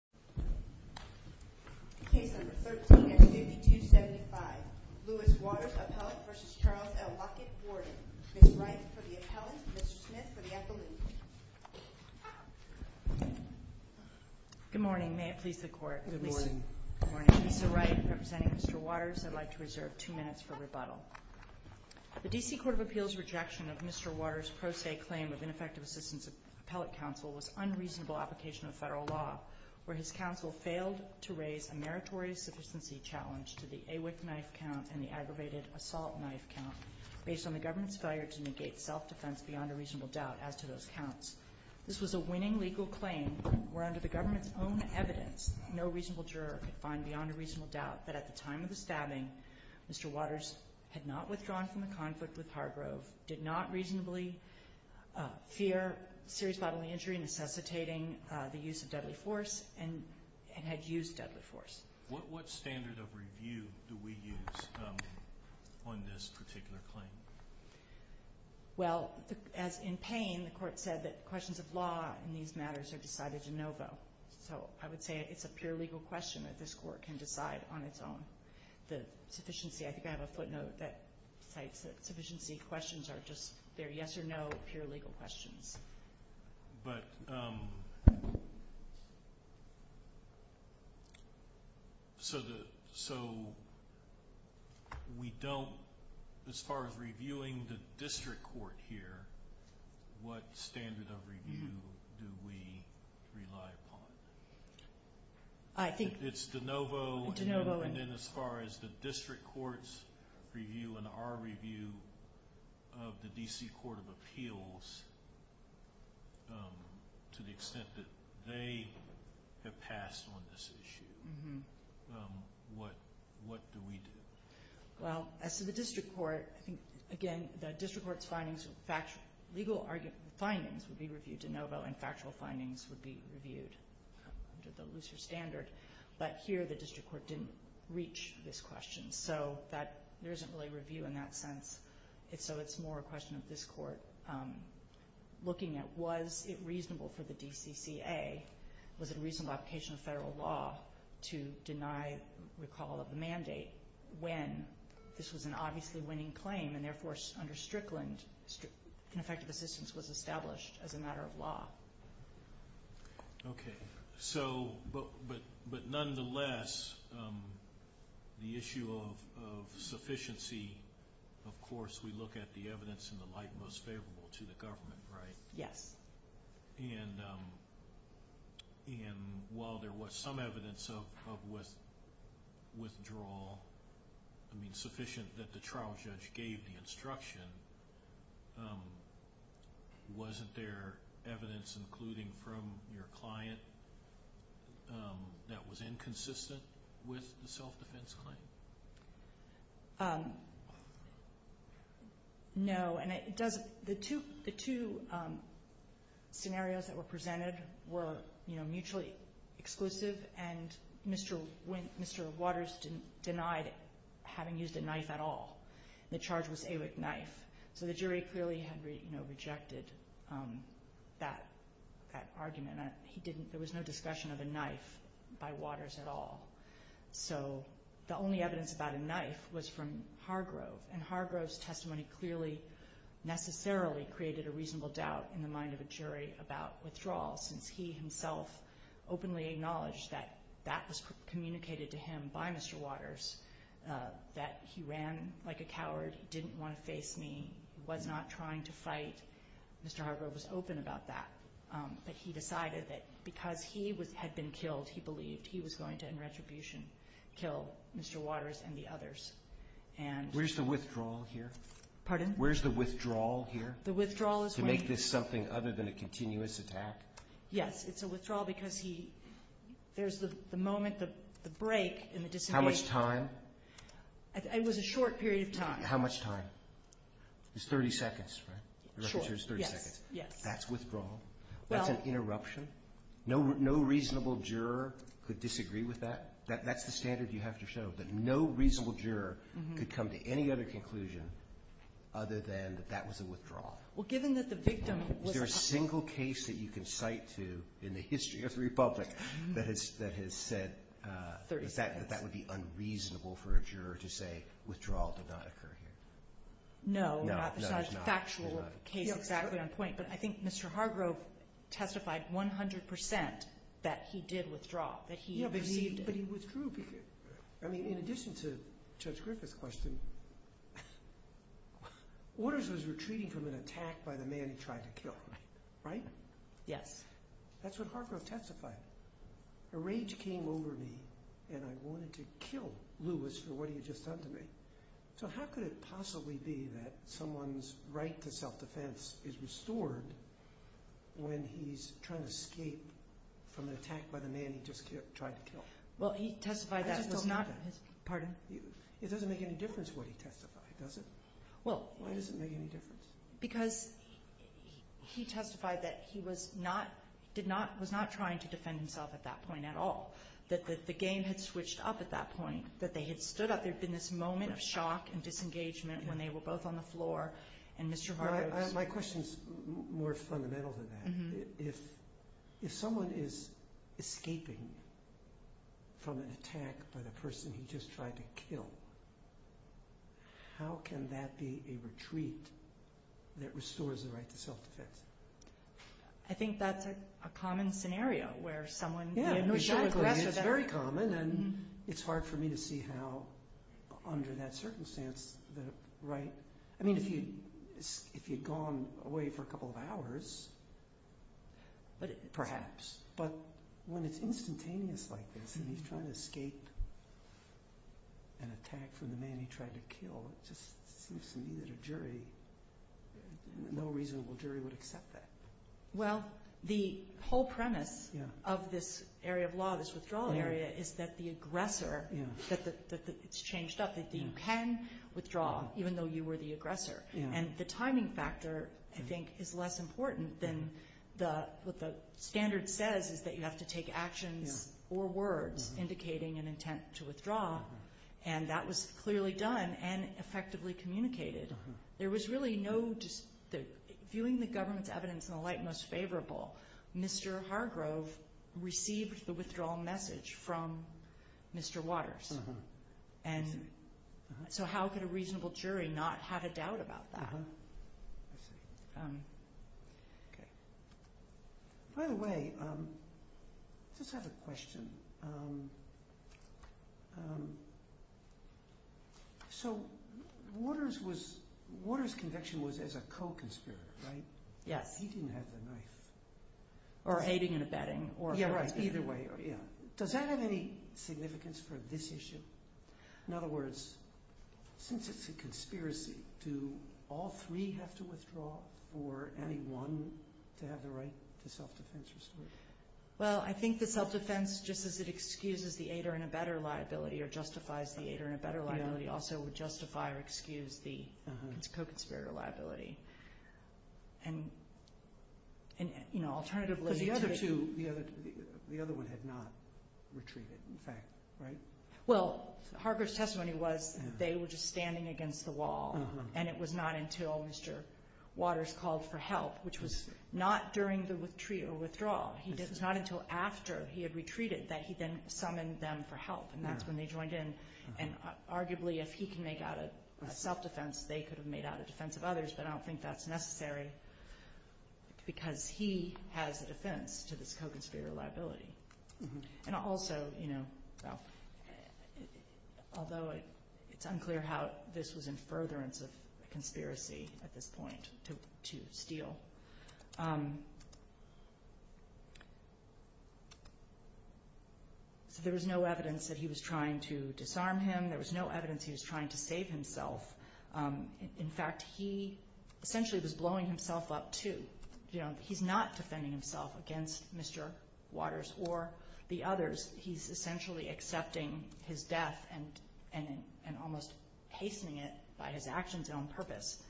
Warden. Ms. Wright for the appellant, Mr. Smith for the appellant. Good morning, may it please the Court. Good morning. Good morning. Lisa Wright representing Mr. Waters. I'd like to reserve two minutes for rebuttal. The D.C. Court of Appeals' rejection of Mr. Waters' pro se claim of ineffective assistance of appellate counsel was unreasonable application of federal law where his counsel failed to raise a meritorious sufficiency challenge to the AWIC knife count and the aggravated assault knife count based on the government's failure to negate self-defense beyond a reasonable doubt as to those counts. This was a winning legal claim where under the government's own evidence, no reasonable juror could find beyond a reasonable doubt that at the time of the stabbing, Mr. Waters had not withdrawn from the conflict with Hargrove, did not reasonably fear serious bodily injury necessitating the use of deadly force, and had used deadly force. What standard of review do we use on this particular claim? Well, as in Payne, the Court said that questions of law in these matters are decided in novo. So I would say it's a pure legal question that this Court can decide on its own. The sufficiency questions are just there, yes or no, pure legal questions. But, so we don't, as far as reviewing the district court here, what standard of review do we rely upon? It's de novo, and then as far as the district court's review and our review of the D.C. Court of Appeals, to the extent that they have passed on this issue, what do we do? Well, as to the district court, again, the district court's findings, legal findings would be reviewed de novo, and factual findings would be reviewed under the looser standard. But here the district court didn't reach this question, so there isn't really a standard of review in that sense. So it's more a question of this Court looking at, was it reasonable for the D.C.C.A., was it a reasonable application of federal law to deny recall of the mandate when this was an obviously winning claim, and therefore under Strickland, ineffective assistance was established as a matter of law. Okay. So, but nonetheless, the issue of sufficiency, of course we look at the evidence in the light most favorable to the government, right? Yes. And while there was some evidence of withdrawal, I mean sufficient that the trial judge gave the instruction, wasn't there evidence, including from your client, that was inconsistent with the self-defense claim? No, and it doesn't, the two scenarios that were presented were, you know, mutually exclusive, and Mr. Waters denied having used a knife at all. The charge was AWIC knife. So the jury clearly had rejected that argument. There was no discussion of a knife by Waters at all. So the only evidence about a knife was from Hargrove, and Hargrove's testimony clearly necessarily created a reasonable doubt in the mind of a jury about withdrawal, since he himself openly acknowledged that that was communicated to him by Mr. Waters, that he ran like a coward, he didn't want to face me, he was not trying to fight. Mr. Hargrove was open about that, but he decided that because he had been killed, he believed he was going to, in retribution, kill Mr. Waters and the others, and... Where's the withdrawal here? Pardon? Where's the withdrawal here? The withdrawal is... To make this something other than a continuous attack? Yes, it's a withdrawal because he, there's the moment, the break and the disengagement. How much time? It was a short period of time. How much time? It's 30 seconds, right? Sure, yes, yes. That's withdrawal? That's an interruption? No reasonable juror could disagree with that? That's the standard you have to show, that no reasonable juror could come to any other conclusion other than that that was a withdrawal? Well, given that the victim... Is there a single case that you can cite to in the history of that that would be unreasonable for a juror to say withdrawal did not occur here? No, there's not a factual case exactly on point, but I think Mr. Hargrove testified 100% that he did withdraw, that he... Yeah, but he withdrew because, I mean, in addition to Judge Griffith's question, Waters was retreating from an attack by the man he tried to kill, right? Yes. That's what Hargrove testified. The rage came over me and I wanted to kill Lewis for what he had just done to me. So how could it possibly be that someone's right to self-defense is restored when he's trying to escape from an attack by the man he just tried to kill? Well, he testified that was not... I just don't know that. Pardon? It doesn't make any difference what he testified, does it? Well, why does it make any difference? Because he testified that he was not trying to defend himself at that point at all, that the game had switched up at that point, that they had stood up. There'd been this moment of shock and disengagement when they were both on the floor and Mr. Hargrove... My question's more fundamental than that. If someone is escaping from an attack by the person he just tried to kill, how can that be a retreat that restores the right to self-defense? I think that's a common scenario where someone... Yeah, it's very common and it's hard for me to see how under that circumstance the right... I mean, if you'd gone away for a couple of hours, perhaps, but when it's instantaneous like this and he's trying to escape an attack from the man he tried to kill, it just seems to me that a jury, no reasonable jury, would accept that. Well, the whole premise of this area of law, this withdrawal area, is that the aggressor, that it's changed up, that you can withdraw even though you were the aggressor. And the timing factor, I think, is less important than what the standard says is that you have to take actions or words indicating an intent to withdraw. And that was clearly done and effectively communicated. There was really no... Viewing the government's evidence in the light most favorable, Mr. Hargrove received the withdrawal message from Mr. Waters. So how could a reasonable jury not have a doubt about that? By the way, I just have a question. So Waters' conviction was as a co-conspirator, right? Yes. He didn't have the knife. Or aiding and abetting. Either way, yeah. Does that have any significance for this issue? In other words, since it's a conspiracy, do all three have to withdraw or any one to have the right to self-defense restored? Well, I think the self-defense, just as it excuses the aider in a better liability or justifies the aider in a better liability, also would justify or excuse the co-conspirator in a better liability. And, you know, alternatively... Because the other two, the other one had not retreated, in fact, right? Well, Hargrove's testimony was they were just standing against the wall. And it was not until Mr. Waters called for help, which was not during the retreat or withdrawal. It was not until after he had retreated that he then summoned them for help. And that's when they necessary because he has a defense to this co-conspirator liability. And also, you know, although it's unclear how this was in furtherance of conspiracy at this point to steal. So there was no evidence that he was trying to disarm him. There was no evidence he was trying to disarm him. He essentially was blowing himself up, too. You know, he's not defending himself against Mr. Waters or the others. He's essentially accepting his death and almost hastening it by his actions and on purpose.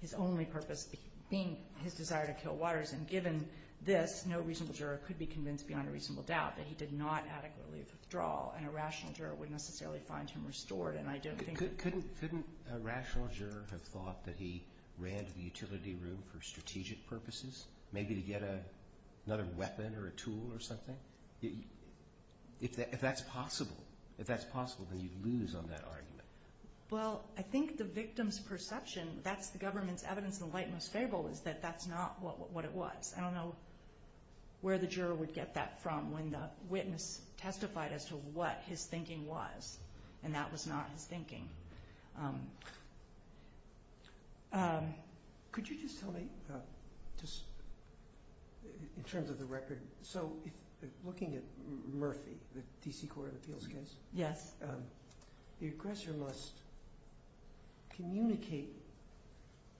His only purpose being his desire to kill Waters. And given this, no reasonable juror could be convinced beyond a reasonable doubt that he did not adequately withdraw. And a rational juror wouldn't necessarily find him restored. Couldn't a rational juror have thought that he ran to the utility room for strategic purposes, maybe to get another weapon or a tool or something? If that's possible, if that's possible, then you'd lose on that argument. Well, I think the victim's perception, that's the government's evidence in the light most favorable, is that that's not what it was. I don't know where the juror would get that from when the witness testified as to what his thinking was. And that was not his thinking. Could you just tell me, just in terms of the record, so looking at Murphy, the D.C. Court of Appeals case, the aggressor must communicate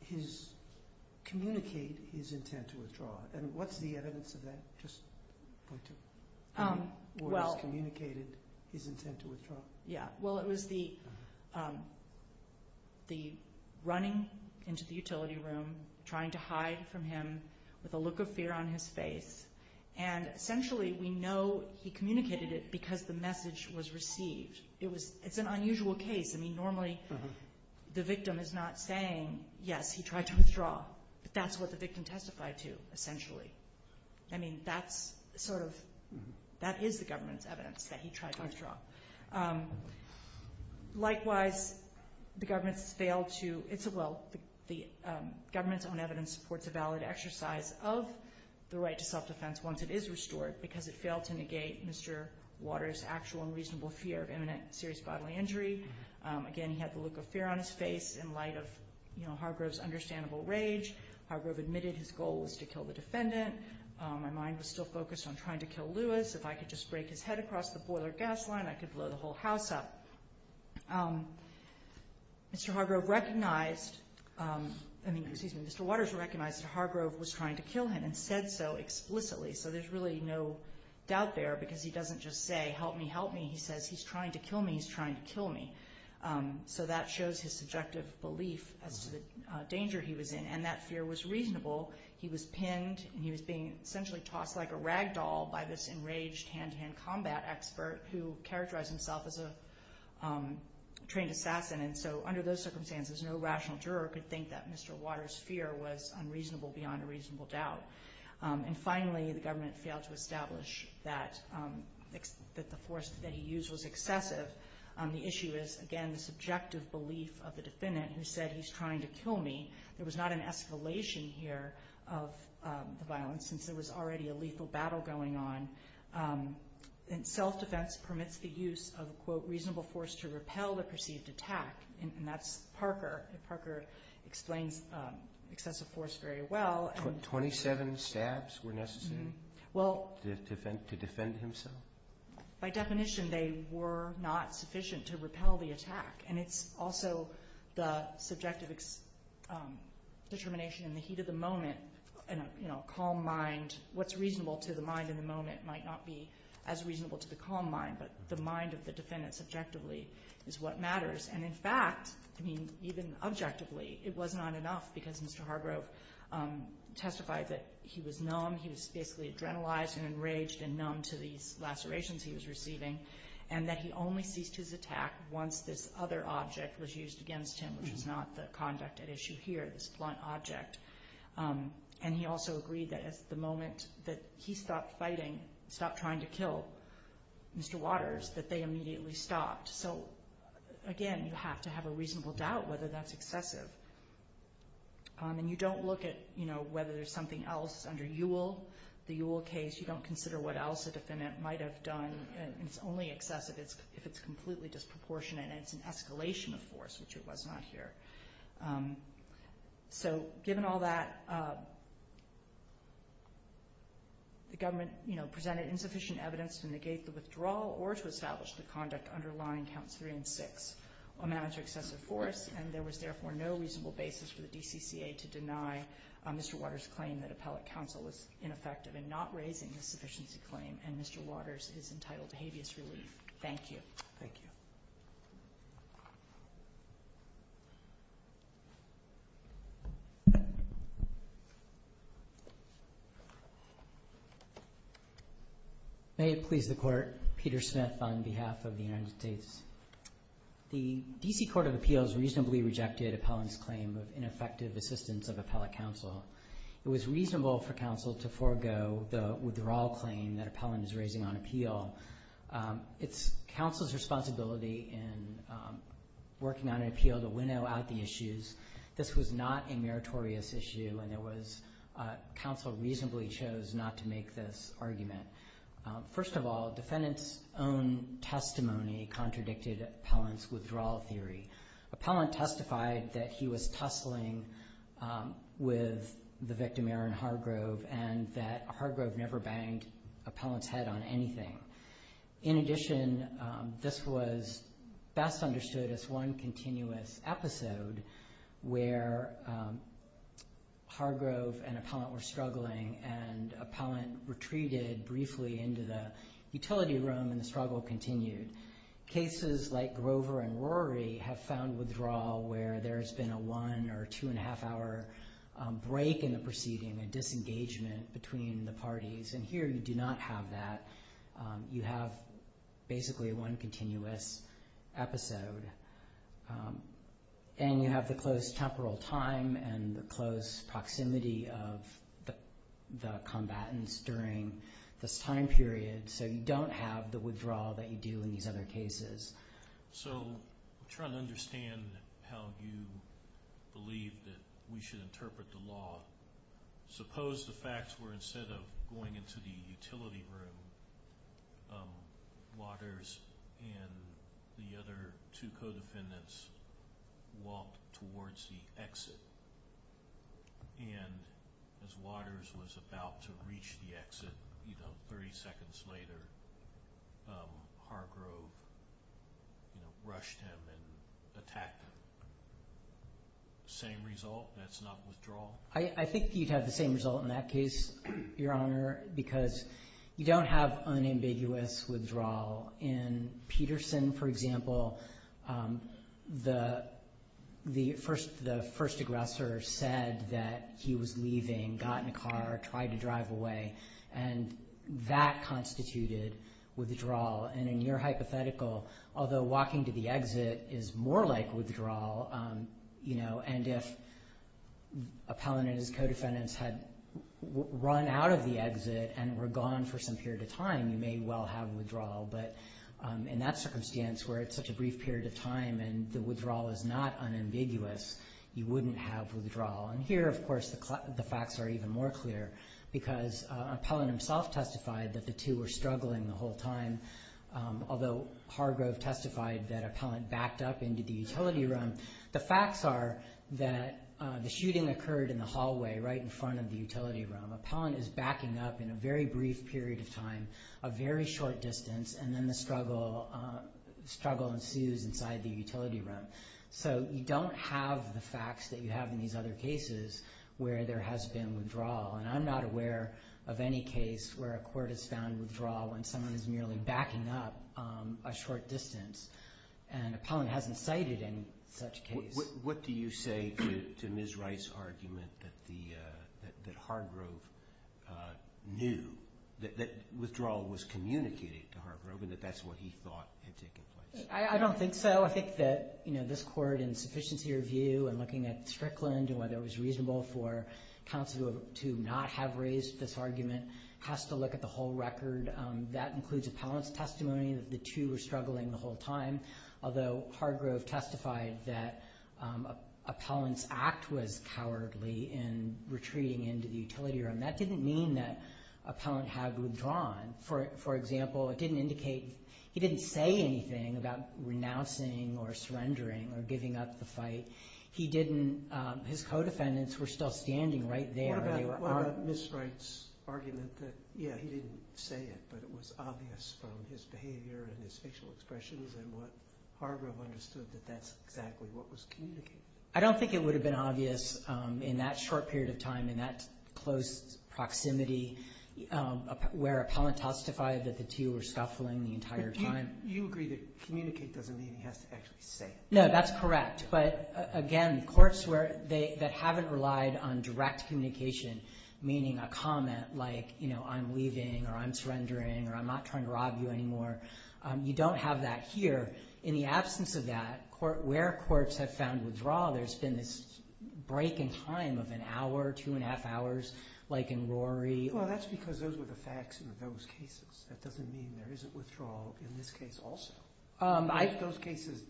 his intent to withdraw. And what's the evidence of that? Just point to it. Waters communicated his intent to withdraw. Yeah. Well, it was the running into the utility room, trying to hide from him with a look of fear on his face. And essentially, we know he communicated it because the message was received. It's an unusual case. I mean, normally the victim is not saying, yes, he tried to withdraw. I mean, that is the government's evidence that he tried to withdraw. Likewise, the government's own evidence supports a valid exercise of the right to self-defense once it is restored because it failed to negate Mr. Waters' actual and reasonable fear of imminent serious bodily injury. Again, he had the look of fear on his face in light of Hargrove's understandable rage. Hargrove admitted his goal was to kill the defendant. My mind was still focused on trying to kill Lewis. If I could just break his head across the boiler gas line, I could blow the whole house up. Mr. Hargrove recognized, I mean, excuse me, Mr. Waters recognized that Hargrove was trying to kill him and said so explicitly. So there's really no doubt there because he doesn't just say, help me, help me. He says, he's trying to kill me, he's trying to kill me. So that shows his subjective belief as to the danger he was in and that fear was reasonable. He was pinned and he was being essentially tossed like a rag doll by this enraged hand-to-hand combat expert who characterized himself as a trained assassin. And so under those circumstances, no rational juror could think that Mr. Waters' fear was unreasonable beyond a reasonable doubt. And finally, the government failed to establish that the force that he used was the belief of the defendant who said he's trying to kill me. There was not an escalation here of the violence since there was already a lethal battle going on. And self-defense permits the use of, quote, reasonable force to repel the perceived attack. And that's Parker. Parker explains excessive force very well. Twenty-seven stabs were necessary to defend himself? By definition, they were not sufficient to repel the attack. And it's also the subjective determination in the heat of the moment, in a calm mind, what's reasonable to the mind in the moment might not be as reasonable to the calm mind, but the mind of the defendant subjectively is what matters. And in fact, I mean, even objectively, it was not enough because Mr. Hargrove testified that he was numb, he was basically adrenalized and enraged and numb to these lacerations he was receiving, and that he only ceased his attack once this other object was used against him, which is not the conduct at issue here, this blunt object. And he also agreed that as the moment that he stopped fighting, stopped trying to kill Mr. Waters, that they immediately stopped. So again, you have to have a reasonable doubt whether that's excessive. And you don't look at, you know, whether there's something else under Ewell, the Ewell case, you don't consider what else a defendant might have done, and it's only excessive if it's completely disproportionate and it's an escalation of force, which it was not here. So given all that, the government, you know, presented insufficient evidence to negate the withdrawal or to establish the conduct underlying Counts 3 and 6 on manager excessive force, and there was therefore no reasonable basis for the DCCA to deny Mr. Waters' counsel was ineffective in not raising the sufficiency claim, and Mr. Waters is entitled to habeas relief. Thank you. Thank you. May it please the Court, Peter Smith on behalf of the United States. The DC Court of Appeals reasonably rejected appellant's claim of ineffective assistance of appellate counsel. It was reasonable for counsel to forego the withdrawal claim that appellant is raising on appeal. It's counsel's responsibility in working on an appeal to winnow out the issues. This was not a meritorious issue, and it was counsel reasonably chose not to make this argument. First of all, defendant's own testimony contradicted appellant's withdrawal theory. Appellant testified that he was tussling with the victim, Aaron Hargrove, and that Hargrove never banged appellant's head on anything. In addition, this was best understood as one continuous episode where Hargrove and appellant were struggling, and appellant retreated briefly into the one or two and a half hour break in the proceeding, a disengagement between the parties, and here you do not have that. You have basically one continuous episode, and you have the close temporal time and the close proximity of the combatants during this time period, so you don't have the withdrawal that you do in these other cases. So, I'm trying to understand how you believe that we should interpret the law. Suppose the facts were instead of going into the utility room, Waters and the other two co-defendants walked towards the exit, and as Waters was about to reach the exit, you know, 30 seconds later, Hargrove rushed him and attacked him. Same result? That's not withdrawal? I think you'd have the same result in that case, Your Honor, because you don't have unambiguous withdrawal. In Peterson, for example, the first aggressor said that he was leaving, got in a car, tried to drive away, and that constituted withdrawal, and in your hypothetical, although walking to the exit is more like withdrawal, you know, and if appellant and his co-defendants had run out of the exit and were gone for some period of time, you may well have withdrawal, but in that circumstance where it's such a brief period of time and the withdrawal is not unambiguous, you wouldn't have withdrawal. And here, of course, the facts are even more clear because appellant himself testified that the two were struggling the whole time, although Hargrove testified that appellant backed up into the utility room. The facts are that the shooting occurred in the hallway right in front of the utility room. Appellant is backing up in a very brief period of time, a very short distance, and then the struggle ensues inside the utility room. So you don't have the facts that you have in these other cases where there has been withdrawal, and I'm not aware of any case where a court has found withdrawal when someone is merely backing up a short distance, and appellant hasn't cited any such case. What do you say to Ms. Wright's argument that Hargrove knew, that withdrawal was communicated to Hargrove, and that that's what he thought had taken place? I don't think so. I think that, you know, this court in sufficiency review and looking at Strickland and whether it was reasonable for counsel to not have raised this argument has to look at the whole record. That includes appellant's testimony that the two were struggling the whole time, although Hargrove testified that appellant's act was cowardly in retreating into the utility room. That didn't mean that appellant had withdrawn. For example, it didn't indicate, he didn't say anything about renouncing or surrendering or giving up the fight. He didn't, his co-defendants were still standing right there. What about Ms. Wright's argument that, yeah, he didn't say it, but it was obvious from his behavior and his facial expressions and what Hargrove understood that that's exactly what was communicated? I don't think it would have been obvious in that short period of time, in that close proximity where appellant testified that the two were scuffling the entire time. You agree that communicate doesn't mean he has to actually say it. No, that's correct, but again, courts that haven't relied on direct communication, meaning a comment like, you know, I'm leaving or I'm surrendering or I'm not trying to rob you anymore, you don't have that here. In the absence of that, where courts have found withdrawal, there's been this break in time of an hour, two and a half hours, like in Rory. Well, that's because those were the facts in those cases. That doesn't mean there isn't withdrawal in this case also. Those cases,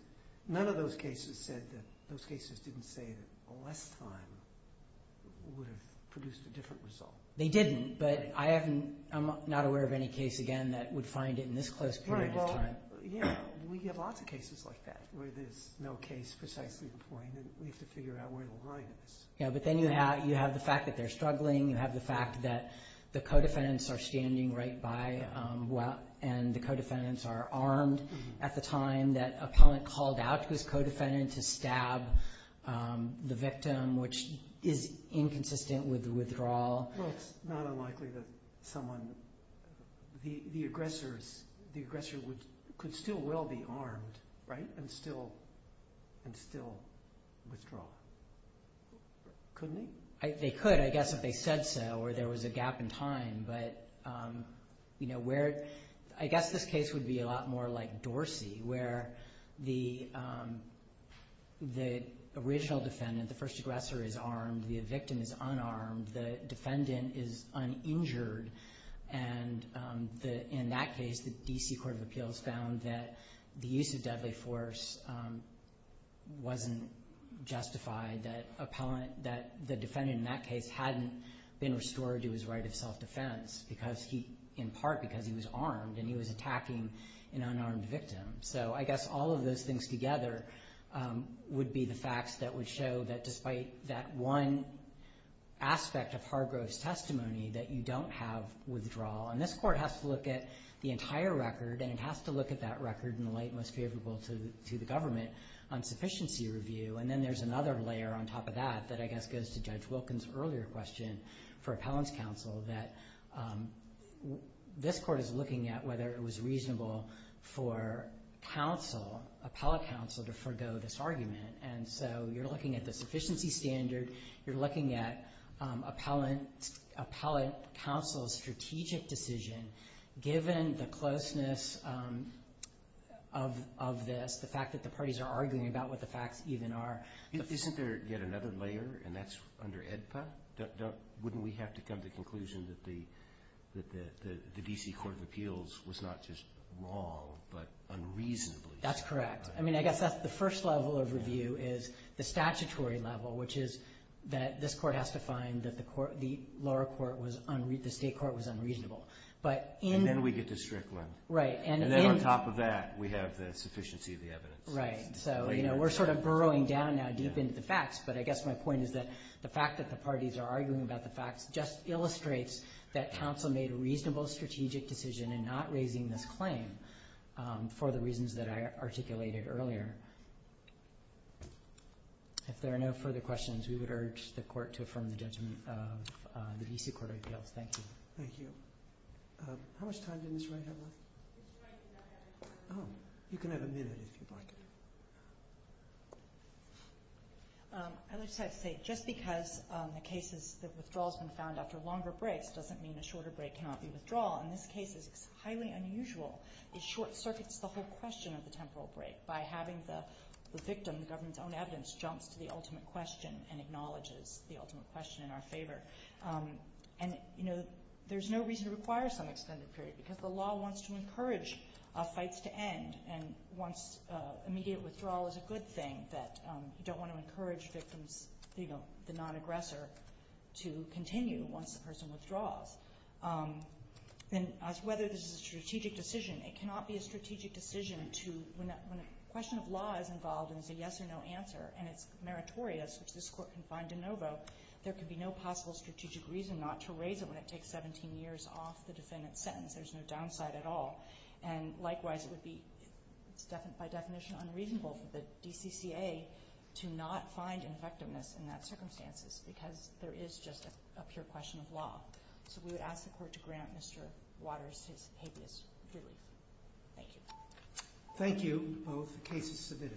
none of those cases said that, those cases didn't say that less time would have produced a different result. They didn't, but I haven't, I'm not aware of any case again that would find it in this close period of time. We have lots of cases like that where there's no case precisely in point and we have to figure out where the line is. Yeah, but then you have the fact that they're struggling, you have the fact that the co-defendants are standing right by and the co-defendants are armed at the time that appellant called out to his co-defendant to stab the victim, which is inconsistent with the withdrawal. Well, it's not unlikely that someone, the aggressor could still well be armed, right, and still withdraw. Couldn't he? They could, I guess, if they said so or there was a gap in time, but I guess this case would be a lot more like Dorsey where the original defendant, the first aggressor is armed, the defendant is uninjured, and in that case the D.C. Court of Appeals found that the use of deadly force wasn't justified, that the defendant in that case hadn't been restored to his right of self-defense because he, in part because he was armed and he was attacking an unarmed victim. So I guess all of those things together would be the facts that would show that despite that one aspect of Hargrove's testimony that you don't have withdrawal, and this Court has to look at the entire record and it has to look at that record in the light most favorable to the government on sufficiency review, and then there's another layer on top of that that I guess goes to Judge Wilkins' earlier question for appellant's counsel, that this Court is looking at whether it was reasonable for counsel, appellate counsel, to forego this argument, and so you're looking at the sufficiency standard, you're looking at appellant counsel's strategic decision given the closeness of this, the fact that the parties are arguing about what the facts even are. Isn't there yet another layer, and that's under AEDPA? Wouldn't we have to come to the conclusion that the D.C. Court of Appeals was not just wrong but unreasonably wrong? That's correct. I mean, I guess that's the first level of review is the statutory level, which is that this Court has to find that the lower court was, the state court was unreasonable. And then we get to Strickland. Right. And then on top of that we have the sufficiency of the evidence. Right. So, you know, we're sort of burrowing down now deep into the facts, but I guess my point is that the fact that the parties are arguing about the facts just illustrates that counsel made a reasonable strategic decision in not raising this claim for the reasons that I articulated earlier. If there are no further questions, we would urge the Court to affirm the judgment of the D.C. Court of Appeals. Thank you. Thank you. How much time did Ms. Wright have left? Ms. Wright did not have any time. Oh. You can have a minute if you'd like. I would just like to say, just because the case is that withdrawal has been found after longer breaks doesn't mean a shorter break cannot be withdrawal. And this case is highly unusual. It short-circuits the whole question of the temporal break by having the victim, the government's own evidence, jumps to the ultimate question and acknowledges the ultimate question in our favor. And, you know, there's no reason to require some extended period because the law wants to encourage fights to end and wants immediate withdrawal as a good thing that you don't want to encourage victims, you know, the non-aggressor to continue once the person withdraws. And as to whether this is a strategic decision, it cannot be a strategic decision to, when a question of law is involved and there's a yes or no answer and it's meritorious, which this Court can find de novo, there can be no possible strategic reason not to raise it when it takes 17 years off the defendant's sentence. There's no downside at all. And, likewise, it would be, by definition, unreasonable for the DCCA to not find infectiveness in that circumstances because there is just a pure question of law. So we would ask the Court to grant Mr. Waters his habeas jury. Thank you. Thank you. The case is submitted.